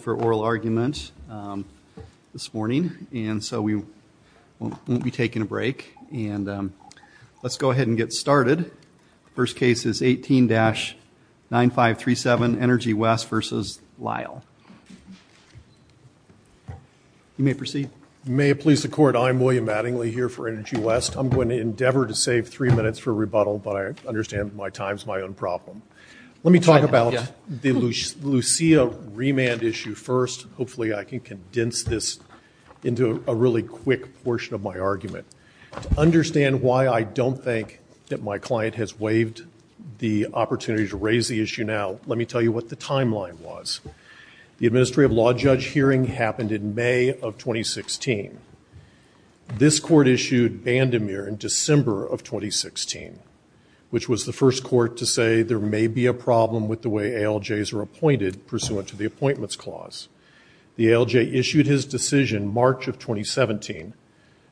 for oral argument this morning and so we won't be taking a break and let's go ahead and get started. First case is 18-9537 Energy West versus Lyle. You may proceed. May it please the court I'm William Mattingly here for Energy West. I'm going to endeavor to save three minutes for rebuttal but I understand my time's my own problem. Let me talk about the Lucia remand issue first. Hopefully I can condense this into a really quick portion of my argument. To understand why I don't think that my client has waived the opportunity to raise the issue now let me tell you what the timeline was. The Administrative Law Judge hearing happened in May of 2016. This court issued Bandemir in December of 2016 which was the first court to say there may be a problem with the way ALJs are appointed pursuant to the appointments clause. The ALJ issued his decision March of 2017.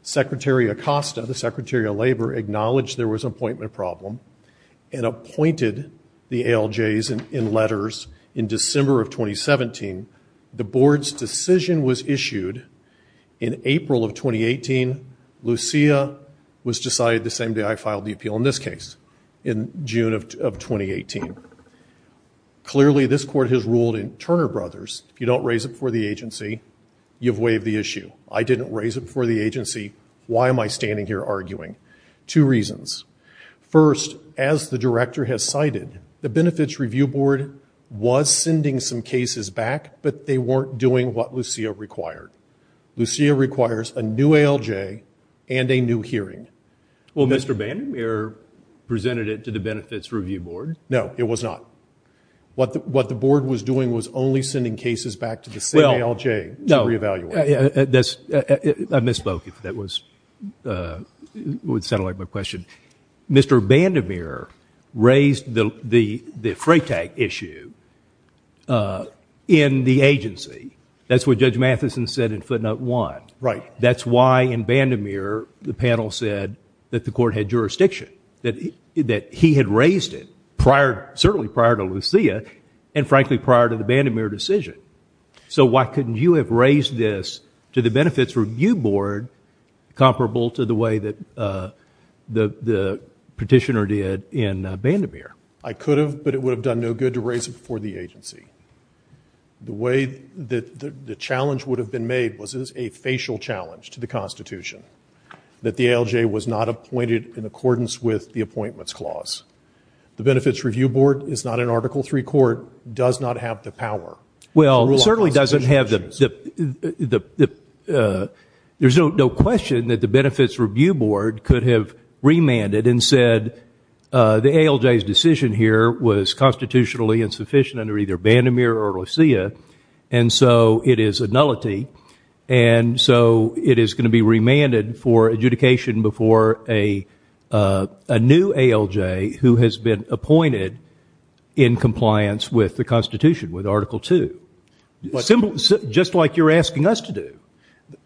Secretary Acosta, the Secretary of Labor, acknowledged there was appointment problem and appointed the ALJs in letters in December of 2017. The board's decision was issued in April of 2018. Lucia was decided the same day I was in this case in June of 2018. Clearly this court has ruled in Turner Brothers if you don't raise it for the agency you've waived the issue. I didn't raise it for the agency. Why am I standing here arguing? Two reasons. First, as the director has cited, the Benefits Review Board was sending some cases back but they weren't doing what Lucia required. Lucia requires a new ALJ and a new hearing. Well, Mr. Bandemir presented it to the Benefits Review Board. No, it was not. What the board was doing was only sending cases back to the same ALJ to reevaluate. I misspoke. That would sound like my question. Mr. Bandemir raised the freight tag issue in the agency. That's what Judge Matheson said in footnote one. Right. That's why in Bandemir the panel said that the court had jurisdiction. That he had raised it prior, certainly prior to Lucia and frankly prior to the Bandemir decision. So why couldn't you have raised this to the Benefits Review Board comparable to the way that the petitioner did in Bandemir? I could have but it would have done no good to raise it for the agency. The way that the challenge would have been made was as a facial challenge to the Constitution that the ALJ was not appointed in accordance with the Appointments Clause. The Benefits Review Board is not an Article 3 court, does not have the power. Well, certainly doesn't have the, there's no question that the Benefits Review Board could have remanded and said the ALJ's decision here was constitutionally insufficient under either Bandemir or Lucia and so it is a nullity and so it is going to be remanded for adjudication before a new ALJ who has been appointed in compliance with the Constitution with Article 2. Just like you're asking us to do.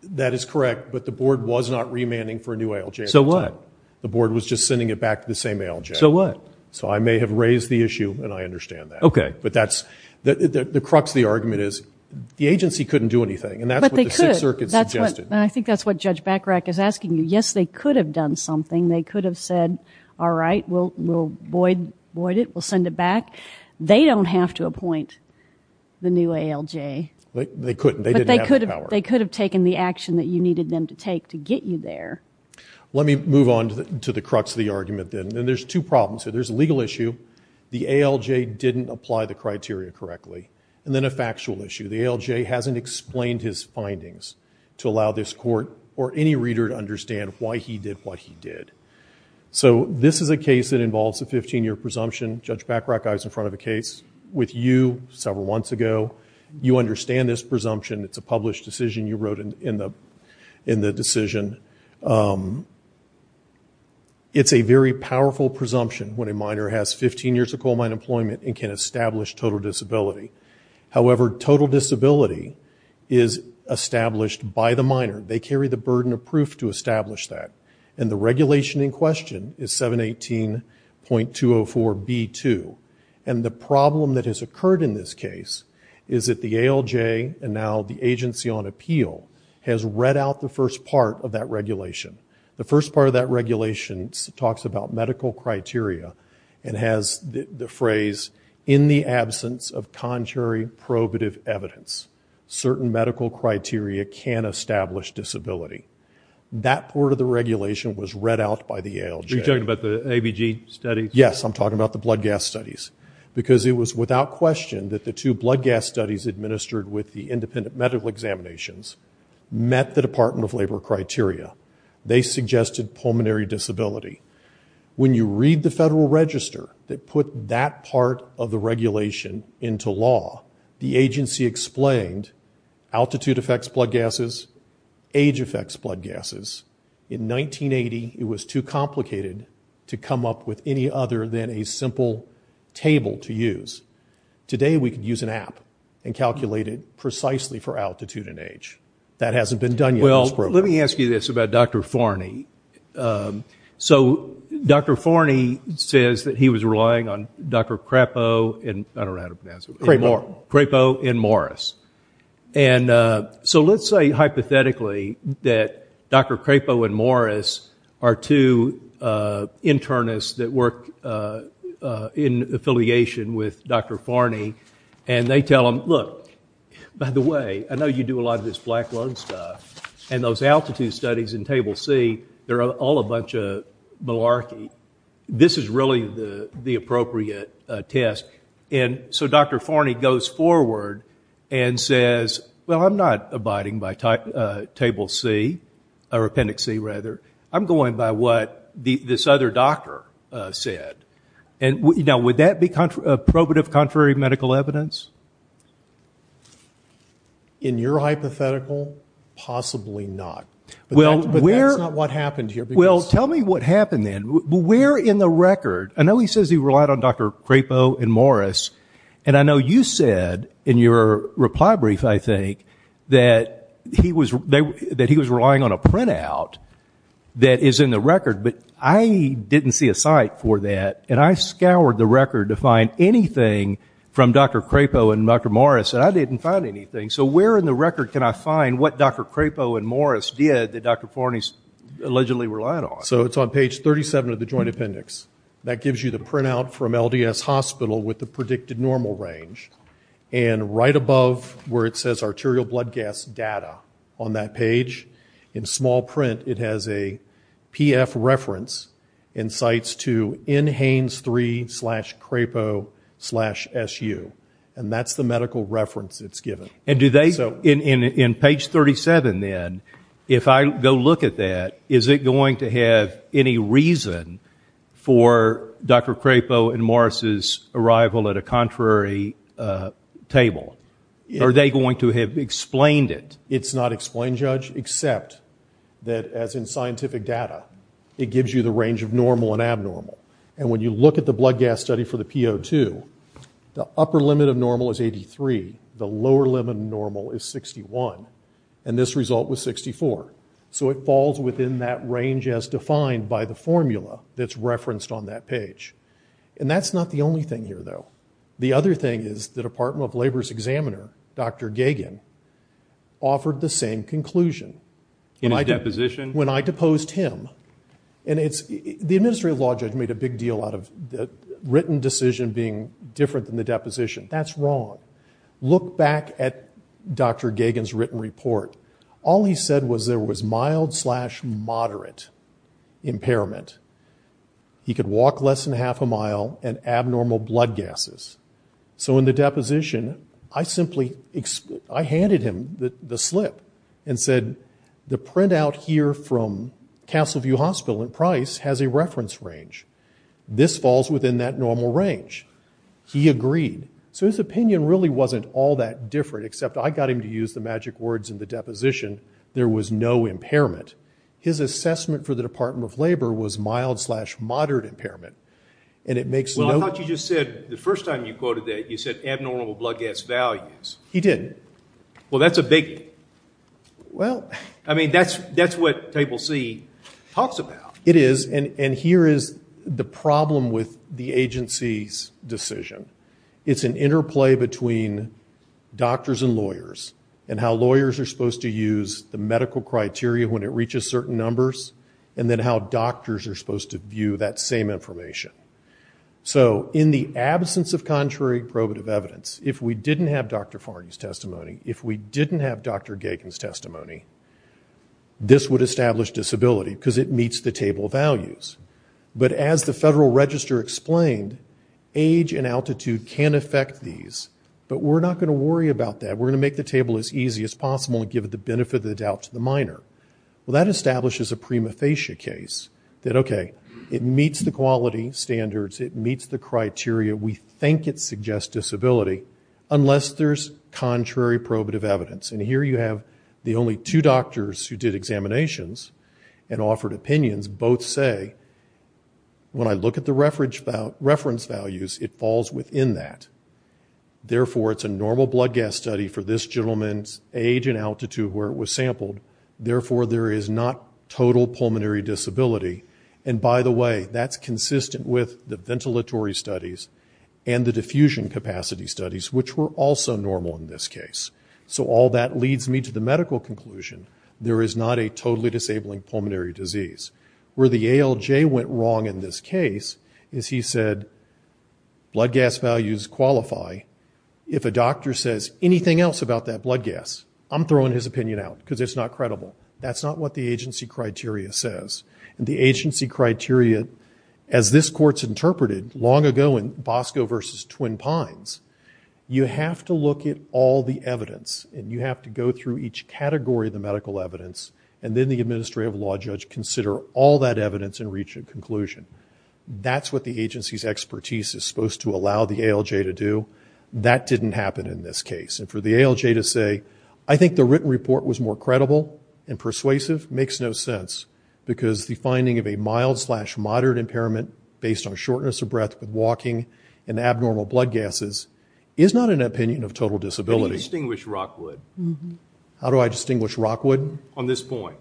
That is correct but the board was not remanding for a new ALJ. So what? The board was just sending it back to the same ALJ. So what? So I may have raised the issue and I understand that. Okay. But that's, the crux of the argument is the agency couldn't do anything and that's what the Sixth Circuit suggested. I think that's what Judge Bachrach is asking you. Yes, they could have done something. They could have said, all right, we'll void it, we'll send it back. They don't have to appoint the new ALJ. They couldn't, they didn't have the power. They could have taken the action that you needed them to take to get you there. Let me move on to the crux of the argument then. Then there's two problems. So there's a legal issue. The ALJ didn't apply the criteria correctly. And then a factual issue. The ALJ hasn't explained his findings to allow this court or any reader to understand why he did what he did. So this is a case that involves a 15-year presumption. Judge Bachrach, I was in front of a case with you several months ago. You understand this presumption. It's a published decision. You wrote in the decision. It's a very powerful presumption when a minor has 15 years of coal mine employment and can establish total disability. However, total disability is established by the minor. They carry the burden of proof to establish that. And the regulation in question is 718.204B2. And the problem that has occurred in this case is that the ALJ, and now the Agency on Appeal, has read out the first part of that about medical criteria and has the phrase, in the absence of contrary probative evidence, certain medical criteria can establish disability. That part of the regulation was read out by the ALJ. You're talking about the ABG studies? Yes, I'm talking about the blood gas studies. Because it was without question that the two blood gas studies administered with the independent medical examinations met the Department of Labor criteria. They suggested pulmonary disability. When you read the Federal Register that put that part of the regulation into law, the agency explained altitude affects blood gases, age affects blood gases. In 1980, it was too complicated to come up with any other than a simple table to use. Today, we could use an app and calculate it precisely for altitude and age. That hasn't been done yet. Well, let me ask you this about Dr. Forney. So Dr. Forney says that he was relying on Dr. Crapo and, I don't know how to pronounce it, Crapo and Morris. And so let's say hypothetically that Dr. Crapo and Morris are two internists that work in affiliation with Dr. Forney, and they tell him, look, by the way, I know you do a studies in Table C. They're all a bunch of malarkey. This is really the appropriate test. And so Dr. Forney goes forward and says, well, I'm not abiding by Table C, or Appendix C rather. I'm going by what this other doctor said. And now, would that be probative contrary medical evidence? In your Well, that's not what happened here. Well, tell me what happened then. Where in the record? I know he says he relied on Dr. Crapo and Morris, and I know you said in your reply brief, I think, that he was relying on a printout that is in the record, but I didn't see a site for that. And I scoured the record to find anything from Dr. Crapo and Dr. Morris, and I didn't find anything. So where in the record can I find what Dr. Crapo and Morris did that Dr. Forney allegedly relied on? So it's on page 37 of the Joint Appendix. That gives you the printout from LDS Hospital with the predicted normal range. And right above where it says arterial blood gas data on that page, in small print, it has a PF reference in sites to NHANES 3 slash Crapo slash SU. And that's the medical reference it's given. And do they, in page 37 then, if I go look at that, is it going to have any reason for Dr. Crapo and Morris's arrival at a contrary table? Are they going to have explained it? It's not explained, Judge, except that, as in scientific data, it gives you the range of normal and abnormal. And when you look at the blood gas study for the PO2, the upper limit of normal is 83. The lower limit of normal is 61. And this result was 64. So it falls within that range as defined by the formula that's referenced on that page. And that's not the only thing here, though. The other thing is the Department of Labor's examiner, Dr. Gagin, offered the same conclusion. In his deposition? When I deposed him. And it's, the administrative law judge made a big deal out of the written decision being different than the deposition. That's wrong. Look back at Dr. Gagin's written report. All he said was there was mild slash moderate impairment. He could walk less than half a mile and abnormal blood gases. So in the deposition, I simply, I handed him the slip and said, the printout here from Castleview Hospital in Price has a reference range. This falls within that normal range. He agreed. So his opinion really wasn't all that different, except I got him to use the magic words in the deposition, there was no impairment. His assessment for the Department of Labor was mild slash moderate impairment. And it makes no- Well, I thought you just said, the first time you quoted that, you said abnormal blood gas values. He didn't. Well, that's a biggie. Well- I mean, that's what Table C talks about. It is. And here is the problem with the agency's decision. It's an interplay between doctors and lawyers, and how lawyers are supposed to use the medical criteria when it reaches certain numbers, and then how doctors are supposed to view that same information. So in the absence of contrary probative evidence, if we didn't have Dr. Farney's testimony, if we didn't have Dr. Gagin's testimony, this would establish disability, because it meets the table values. But as the Federal Register explained, age and altitude can affect these, but we're not going to worry about that. We're going to make the table as easy as possible and give it the benefit of the doubt to the minor. Well, that establishes a prima facie case that, okay, it meets the quality standards, it meets the criteria we think it suggests disability, unless there's contrary probative evidence. And here you have the only two doctors who did examinations and offered opinions both say, when I look at the reference values, it falls within that. Therefore, it's a normal blood gas study for this gentleman's age and altitude where it was sampled. Therefore, there is not total pulmonary disability. And by the way, that's consistent with the ventilatory studies and the diffusion capacity studies, which were also normal in this case. So all that leads me to the medical conclusion. There is not a totally disabling pulmonary disease. Where the ALJ went wrong in this case is he said, blood gas values qualify. If a doctor says anything else about that blood gas, I'm throwing his opinion out because it's not credible. That's not what the agency criteria says. And the You have to look at all the evidence, and you have to go through each category of the medical evidence, and then the administrative law judge consider all that evidence and reach a conclusion. That's what the agency's expertise is supposed to allow the ALJ to do. That didn't happen in this case. And for the ALJ to say, I think the written report was more credible and persuasive, makes no sense because the finding of a mild-slash-moderate impairment based on is not an opinion of total disability. How do you distinguish Rockwood? How do I distinguish Rockwood? On this point.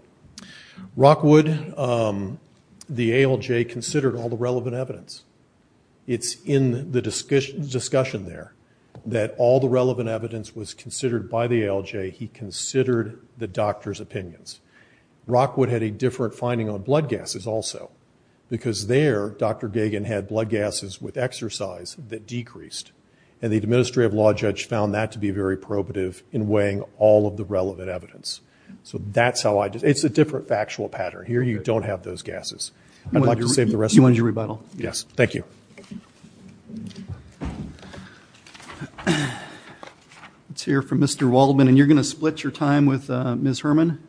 Rockwood, the ALJ considered all the relevant evidence. It's in the discussion there that all the relevant evidence was considered by the ALJ. He considered the doctor's opinions. Rockwood had a different finding on blood gases also because there, Dr. Gagan had blood gases with exercise that decreased. And the administrative law judge found that to be very probative in weighing all of the relevant evidence. So that's how I did it. It's a different factual pattern. Here you don't have those gases. I'd like to save the rest of the time. You wanted your rebuttal? Yes. Thank you. Let's hear from Mr. Waldman. And you're going to split your time with Ms. Herman?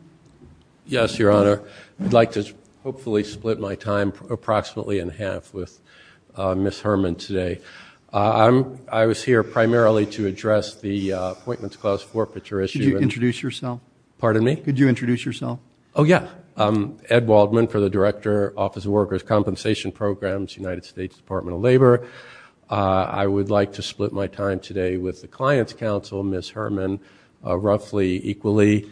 Yes, Your Honor. I'd like to hopefully split my time approximately in half with Ms. Herman today. I was here primarily to address the appointments clause forfeiture issue. Could you introduce yourself? Pardon me? Could you introduce yourself? Oh, yeah. I'm Ed Waldman for the Director Office of Workers' Compensation Programs, United States Department of Labor. I would like to split my time today with the client's counsel, Ms. Herman, roughly equally.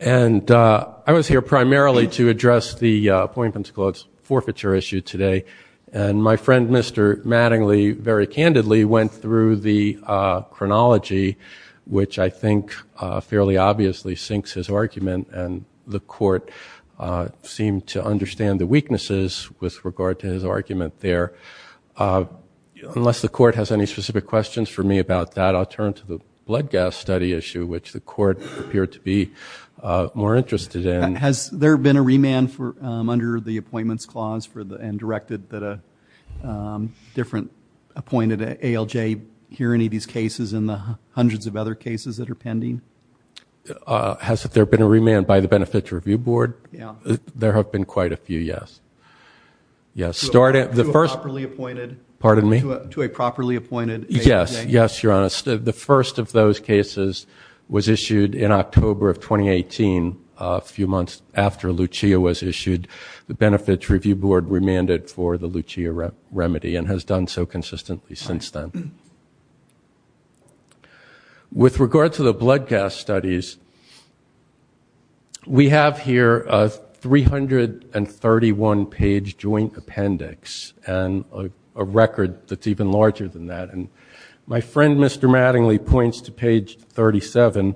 And I was here primarily to address the appointments clause forfeiture issue today. And my friend, Mr. Mattingly, very candidly went through the chronology, which I think fairly obviously syncs his argument. And the court seemed to understand the weaknesses with regard to his argument there. Unless the court has any specific questions for me about that, I'll turn to the blood gas study issue, which the court appeared to be more interested in. Has there been a remand under the appointments clause and directed that a different appointed ALJ hear any of these cases in the hundreds of other cases that are pending? Has there been a remand by the Benefits Review Board? Yeah. There have been quite a few, yes. To a properly appointed? Pardon me? To a properly appointed ALJ? Yes. Yes, Your Honor. The first of those cases was issued in October of 2018, a few months after Lucia was issued. The Benefits Review Board remanded for the Lucia remedy and has done so consistently since then. With regard to the blood gas studies, we have here a 331-page joint appendix and a record that's even larger than that. And my friend, Mr. Mattingly, points to page 37.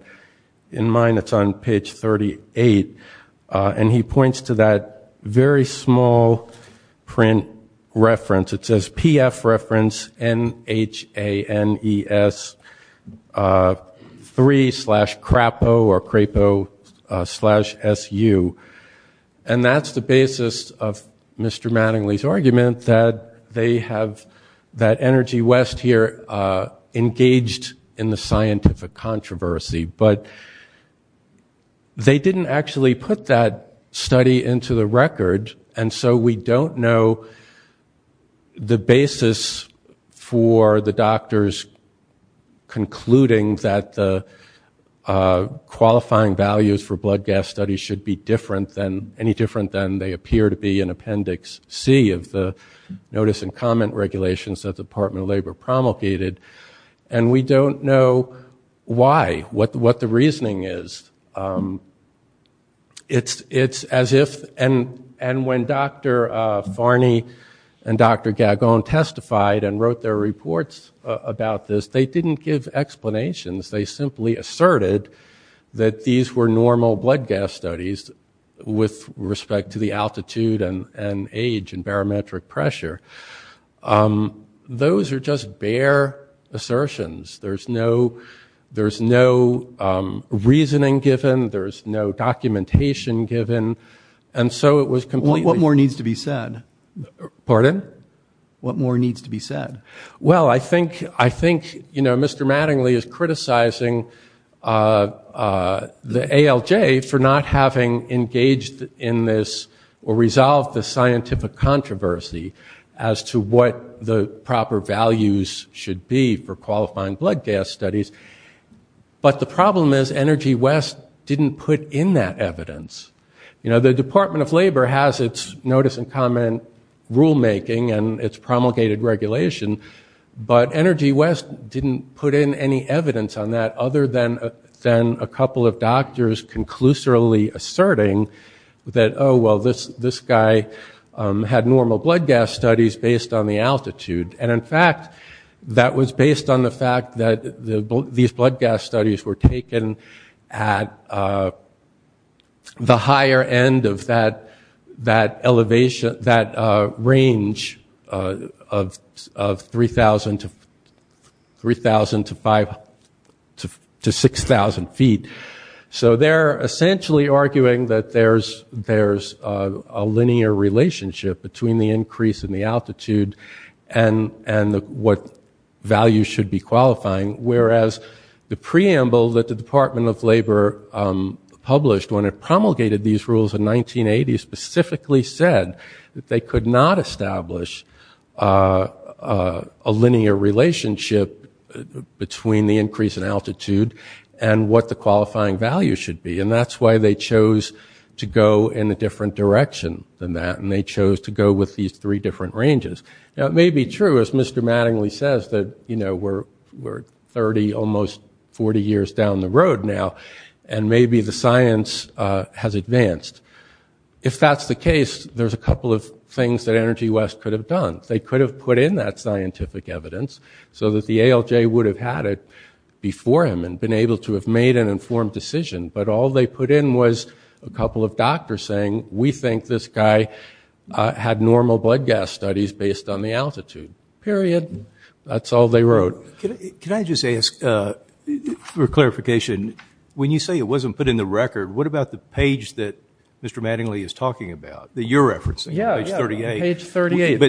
In mine, it's on page 38. And he points to that very small print reference. It says PF reference NHANES3 slash CRAPO or CRAPO slash SU. And that's the basis of Mr. Mattingly's argument that they have that energy west here engaged in the scientific controversy. But they didn't actually put that study into the record. And so we don't know the basis for the doctors concluding that the qualifying values for blood gas studies should be any different than they appear to be in appendix C of the notice and comment regulations that the Department of Labor promulgated. And we don't know why, what the reasoning is. It's as if, and when Dr. Farney and Dr. Gagone testified and wrote their reports about this, they didn't give explanations. They simply asserted that these were normal blood gas studies with respect to the altitude and age and barometric pressure. Those are just bare assertions. There's no reasoning given. There's no documentation given. And so it was completely... What more needs to be said? Pardon? What more needs to be said? Well, I think Mr. Mattingly is criticizing the ALJ for not having engaged in this or resolved the scientific controversy as to what the proper values should be for qualifying blood gas studies. But the problem is that Energy West didn't put in that evidence. The Department of Labor has its notice and comment rulemaking and its promulgated regulation, but Energy West didn't put in any evidence on that other than a couple of doctors conclusively asserting that, oh, well, this guy had normal blood gas studies based on the altitude. And in fact, that was based on the fact that these blood gas studies were taken at the higher end of that range of 3,000 to 5,000 to 6,000 feet. So they're essentially arguing that there's a linear relationship between the increase in the altitude and what value should be The preamble that the Department of Labor published when it promulgated these rules in 1980 specifically said that they could not establish a linear relationship between the increase in altitude and what the qualifying value should be. And that's why they chose to go in a different direction than that. And they chose to go with these three different ranges. Now, it may be true, as Mr. Mattingly says, that we're 30, almost 40 years down the road now, and maybe the science has advanced. If that's the case, there's a couple of things that Energy West could have done. They could have put in that scientific evidence so that the ALJ would have had it before him and been able to have made an informed decision. But all they put in was a this guy had normal blood gas studies based on the altitude, period. That's all they wrote. Can I just ask, for clarification, when you say it wasn't put in the record, what about the page that Mr. Mattingly is talking about, that you're referencing, page 38? Yeah, page 38.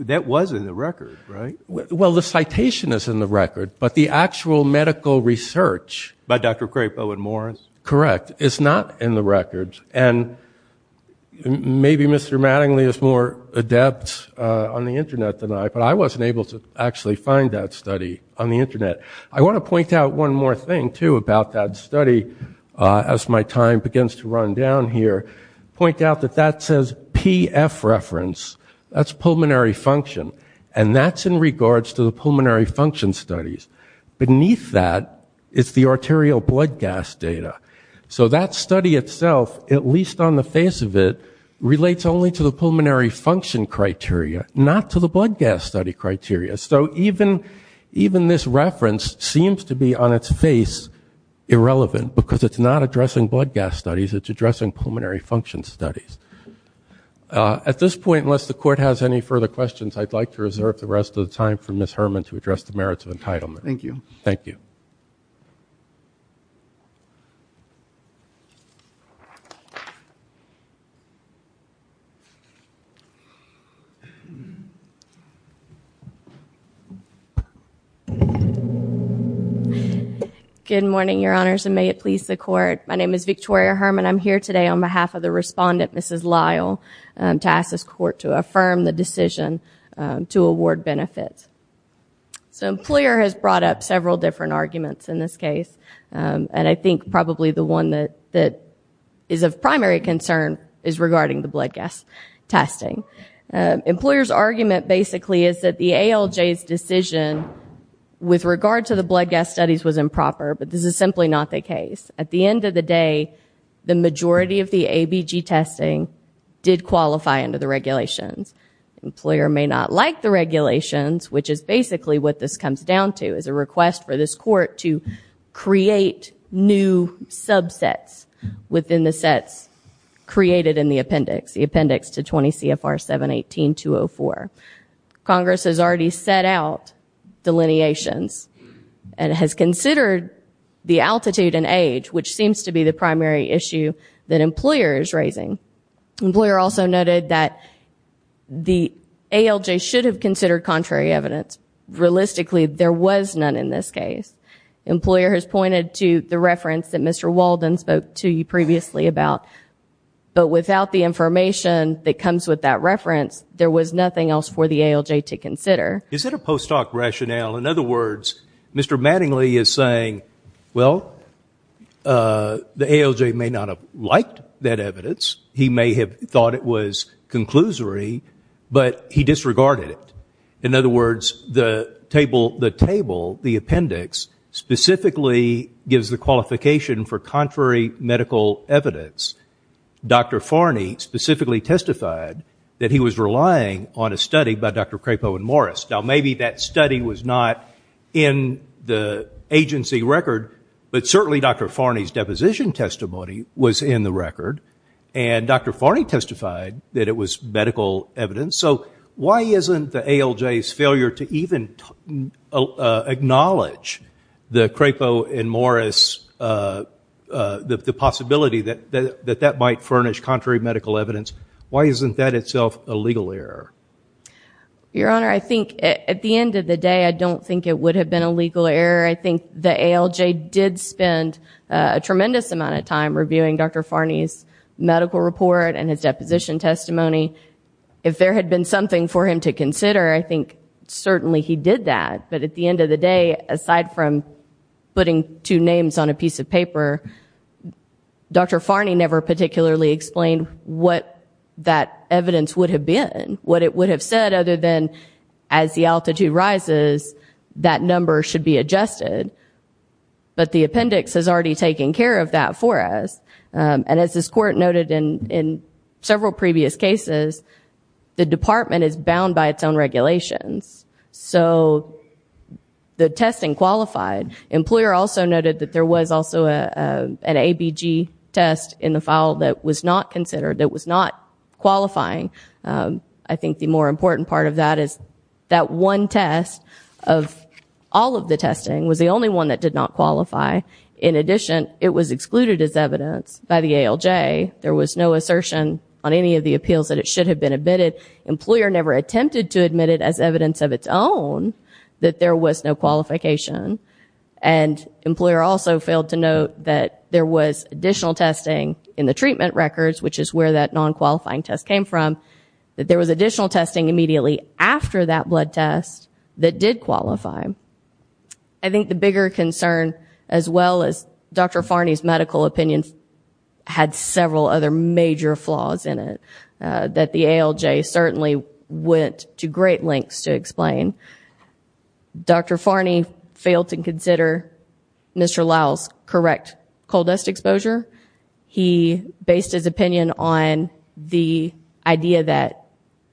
That was in the record, right? Well, the citation is in the record, but the actual medical research By Dr. Crapo and Morris? Correct. It's not in the record. And maybe Mr. Mattingly is more adept on the Internet than I, but I wasn't able to actually find that study on the Internet. I want to point out one more thing, too, about that study as my time begins to run down here, point out that that says PF reference. That's pulmonary function. And that's in regards to the pulmonary function studies. Beneath that is the arterial blood gas data. So that study itself, at least on the face of it, relates only to the pulmonary function criteria, not to the blood gas study criteria. So even this reference seems to be on its face irrelevant because it's not addressing blood gas studies. It's addressing pulmonary function studies. At this point, unless the Court has any further questions, I'd like to reserve the rest of the time for Ms. Herman to address the merits of entitlement. Thank you. Thank you. Good morning, Your Honors, and may it please the Court. My name is Victoria Herman. I'm here today on behalf of the respondent, Mrs. Lyle, to ask this Court to affirm the decision to award benefits. So an employer has brought up several different arguments in this case, and I think probably the one that is of primary concern is regarding the blood gas testing. Employers' argument basically is that the ALJ's decision with regard to the blood gas studies was improper, but this is simply not the case. At the end of the day, the majority of the ABG testing did qualify under the regulations. The employer may not like the regulations, which is basically what this comes down to, is a request for this Court to create new subsets within the sets created in the appendix, the appendix to 20 CFR 718.204. Congress has already set out delineations and has considered the altitude and age, which seems to be the primary issue that employer is raising. Employer also noted that the ALJ should have considered contrary evidence. Realistically, there was none in this case. Employer has pointed to the reference that Mr. Walden spoke to you previously about, but without the information that comes with that reference, there was nothing else for the ALJ to consider. Is it a postdoc rationale? In other words, Mr. Mattingly is saying, well, the ALJ may not have liked that evidence. He may have thought it was conclusory, but he disregarded it. In other words, the table, the appendix, specifically gives the qualification for contrary medical evidence. Dr. Farney specifically testified that he was relying on a study by Dr. Crapo and Morris. Now, maybe that study was not in the agency record, but certainly Dr. Farney's deposition testimony was in the record, and Dr. Farney testified that it was medical evidence. So why isn't the ALJ's failure to even acknowledge the Crapo and Morris possibility that that might furnish contrary medical evidence, why isn't that itself a legal error? Your Honor, I think at the end of the day, I don't think it would have been a legal error. I think the ALJ did spend a tremendous amount of time reviewing Dr. Farney's medical report and his deposition testimony. If there had been something for him to consider, I think certainly he did that. But at the end of the day, aside from putting two names on a piece of paper, Dr. Farney never particularly explained what that evidence would have been, what it would have said, other than as the altitude rises, that number should be adjusted. But the appendix has already taken care of that for us. And as this Court noted in several previous cases, the department is bound by its own regulations. So the testing qualified. Employer also noted that there was also an ABG test in the file that was not considered, that was not qualifying. I think the more important part of that is that one test of all of the testing was the only one that did not qualify. In addition, it was excluded as evidence by the ALJ. There was no assertion on any of the appeals that it should have been admitted. Employer never attempted to admit it as evidence of its own that there was no qualification. And employer also failed to note that there was additional testing in the treatment records, which is where that non-qualifying test came from, that there was additional testing immediately after that blood test that did qualify. I think the bigger concern, as well as Dr. Farney's medical opinion, had several other major flaws in it that the ALJ certainly went to great lengths to explain. Dr. Farney failed to consider Mr. Lowell's correct coal dust exposure. He based his opinion on the idea that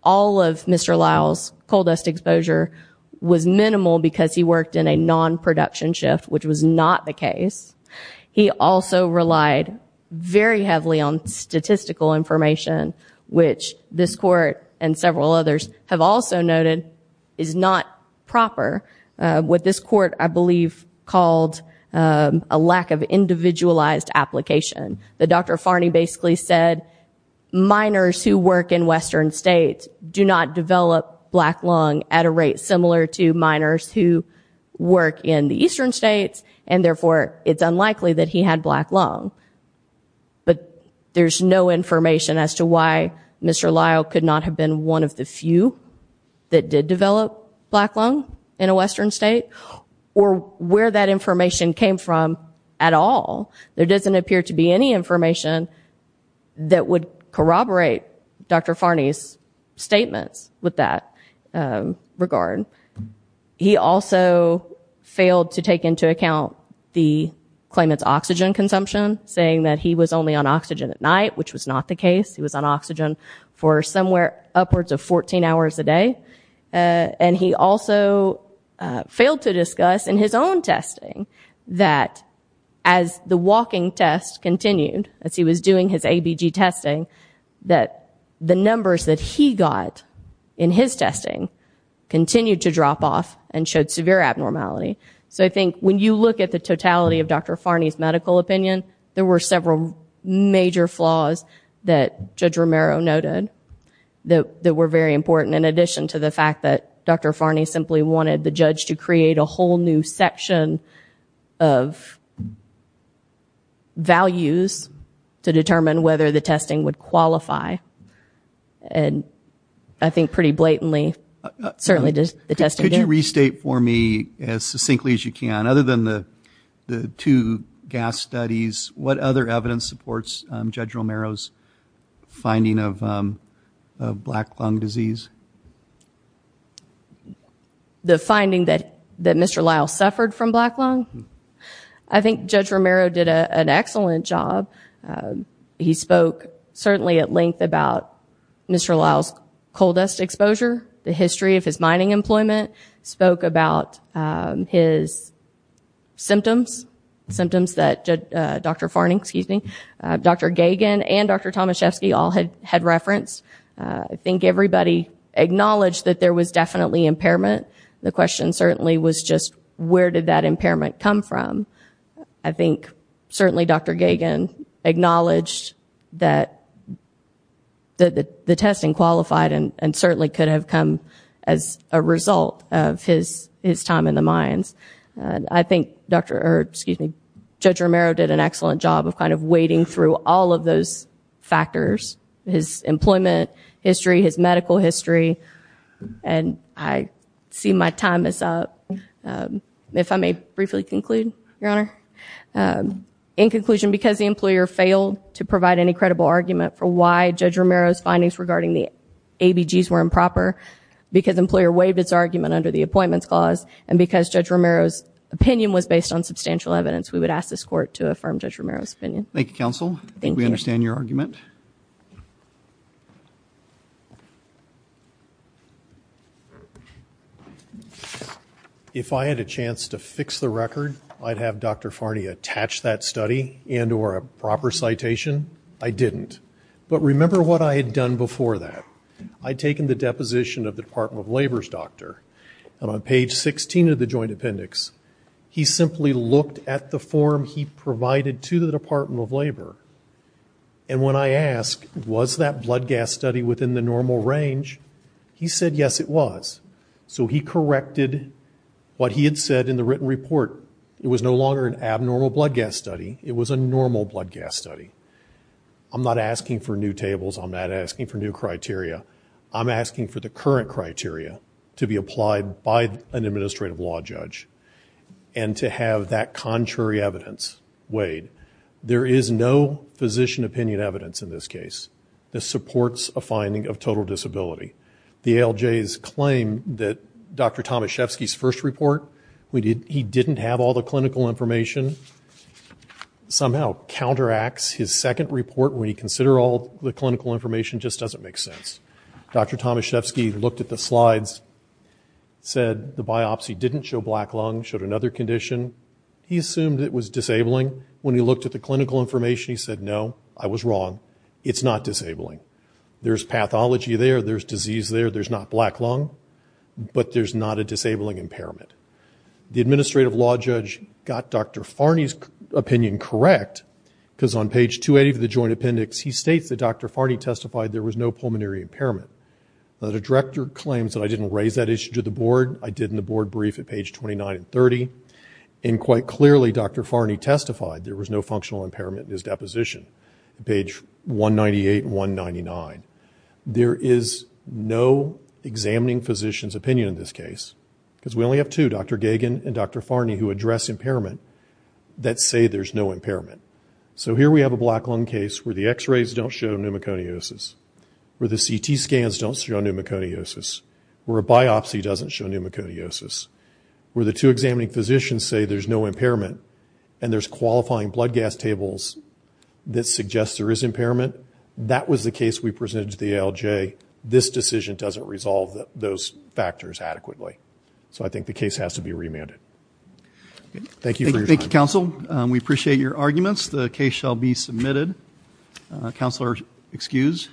all of Mr. Lowell's coal dust exposure was minimal because he worked in a non-production shift, which was not the case. He also relied very heavily on statistical information, which this Court and several others have also noted is not proper, what this Court, I believe, called a lack of individualized application. Dr. Farney basically said minors who work in Western states do not develop black lung at a rate similar to minors who work in the Eastern states, and therefore it's unlikely that he had black lung. But there's no information as to why Mr. Lowell could not have been one of the few that did develop black lung in a Western state or where that information came from at all. There doesn't appear to be any information that would corroborate Dr. Farney's statements with that regard. He also failed to take into account the claim it's oxygen consumption, saying that he was only on oxygen at night, which was not the case. He was on oxygen for somewhere upwards of 14 hours a day. And he also failed to discuss in his own testing that as the walking test continued, as he was doing his ABG testing, that the numbers that he got in his testing continued to drop off and showed severe abnormality. So I think when you look at the totality of Dr. Farney's medical opinion, there were several major flaws that Judge Romero noted that were very important in addition to the fact that Dr. Farney simply wanted the judge to create a whole new section of values to determine whether the testing would qualify. And I think pretty blatantly, certainly the testing did. Could you restate for me as succinctly as you can, other than the two gas studies, what other evidence supports Judge Romero's finding of black lung disease? The finding that Mr. Lyle suffered from black lung? I think Judge Romero did an excellent job. He spoke certainly at length about Mr. Lyle's coal dust exposure, the history of his mining employment, spoke about his symptoms, symptoms that Dr. Farney, excuse me, Dr. Gagin and Dr. Tomaszewski all had referenced. I think everybody acknowledged that there was definitely impairment. The question certainly was just where did that impairment come from? I think certainly Dr. Gagin acknowledged that the testing qualified and certainly could have come as a result of his time in the mines. I think Judge Romero did an excellent job of kind of wading through all of those factors, his employment history, his medical history, and I see my time is up. If I may briefly conclude, Your Honor. In conclusion, because the employer failed to provide any credible argument for why Judge Romero's findings regarding the ABGs were improper, because the employer waived its argument under the Appointments Clause, and because Judge Romero's opinion was based on substantial evidence, we would ask this Court to affirm Judge Romero's opinion. Thank you, Counsel. Thank you. We understand your argument. If I had a chance to fix the record, I'd have Dr. Farney attach that study and or a proper citation. I didn't. But remember what I had done before that. I'd taken the deposition of the Department of Labor's doctor, and on page 16 of the joint appendix, he simply looked at the form he provided to the Department of Labor. And when I asked, was that blood gas study within the normal range, he said, yes, it was. So he corrected what he had said in the written report. It was no longer an abnormal blood gas study. It was a normal blood gas study. I'm not asking for new tables. I'm not asking for new criteria. I'm asking for the current criteria to be applied by an administrative law judge. And to have that contrary evidence weighed. There is no physician opinion evidence in this case that supports a finding of total disability. The ALJs claim that Dr. Tomaszewski's first report, he didn't have all the clinical information, somehow counteracts his second report when you consider all the clinical information just doesn't make sense. Dr. Tomaszewski looked at the slides, said the biopsy didn't show black lung, showed another condition. He assumed it was disabling. When he looked at the clinical information, he said, no, I was wrong. It's not disabling. There's pathology there. There's disease there. There's not black lung. But there's not a disabling impairment. The administrative law judge got Dr. Farney's opinion correct because on page 280 of the joint appendix, he states that Dr. Farney testified there was no pulmonary impairment. The director claims that I didn't raise that issue to the board. I did in the board brief at page 29 and 30. And quite clearly, Dr. Farney testified there was no functional impairment in his deposition, page 198 and 199. There is no examining physician's opinion in this case because we only have two, Dr. Gagan and Dr. Farney, who address impairment that say there's no impairment. So here we have a black lung case where the X-rays don't show pneumoconiosis, where the CT scans don't show pneumoconiosis, where a biopsy doesn't show pneumoconiosis, where the two examining physicians say there's no impairment and there's qualifying blood gas tables that suggest there is impairment. That was the case we presented to the ALJ. This decision doesn't resolve those factors adequately. So I think the case has to be remanded. Thank you for your time. Thank you, counsel. We appreciate your arguments. The case shall be submitted. Counselors, excused.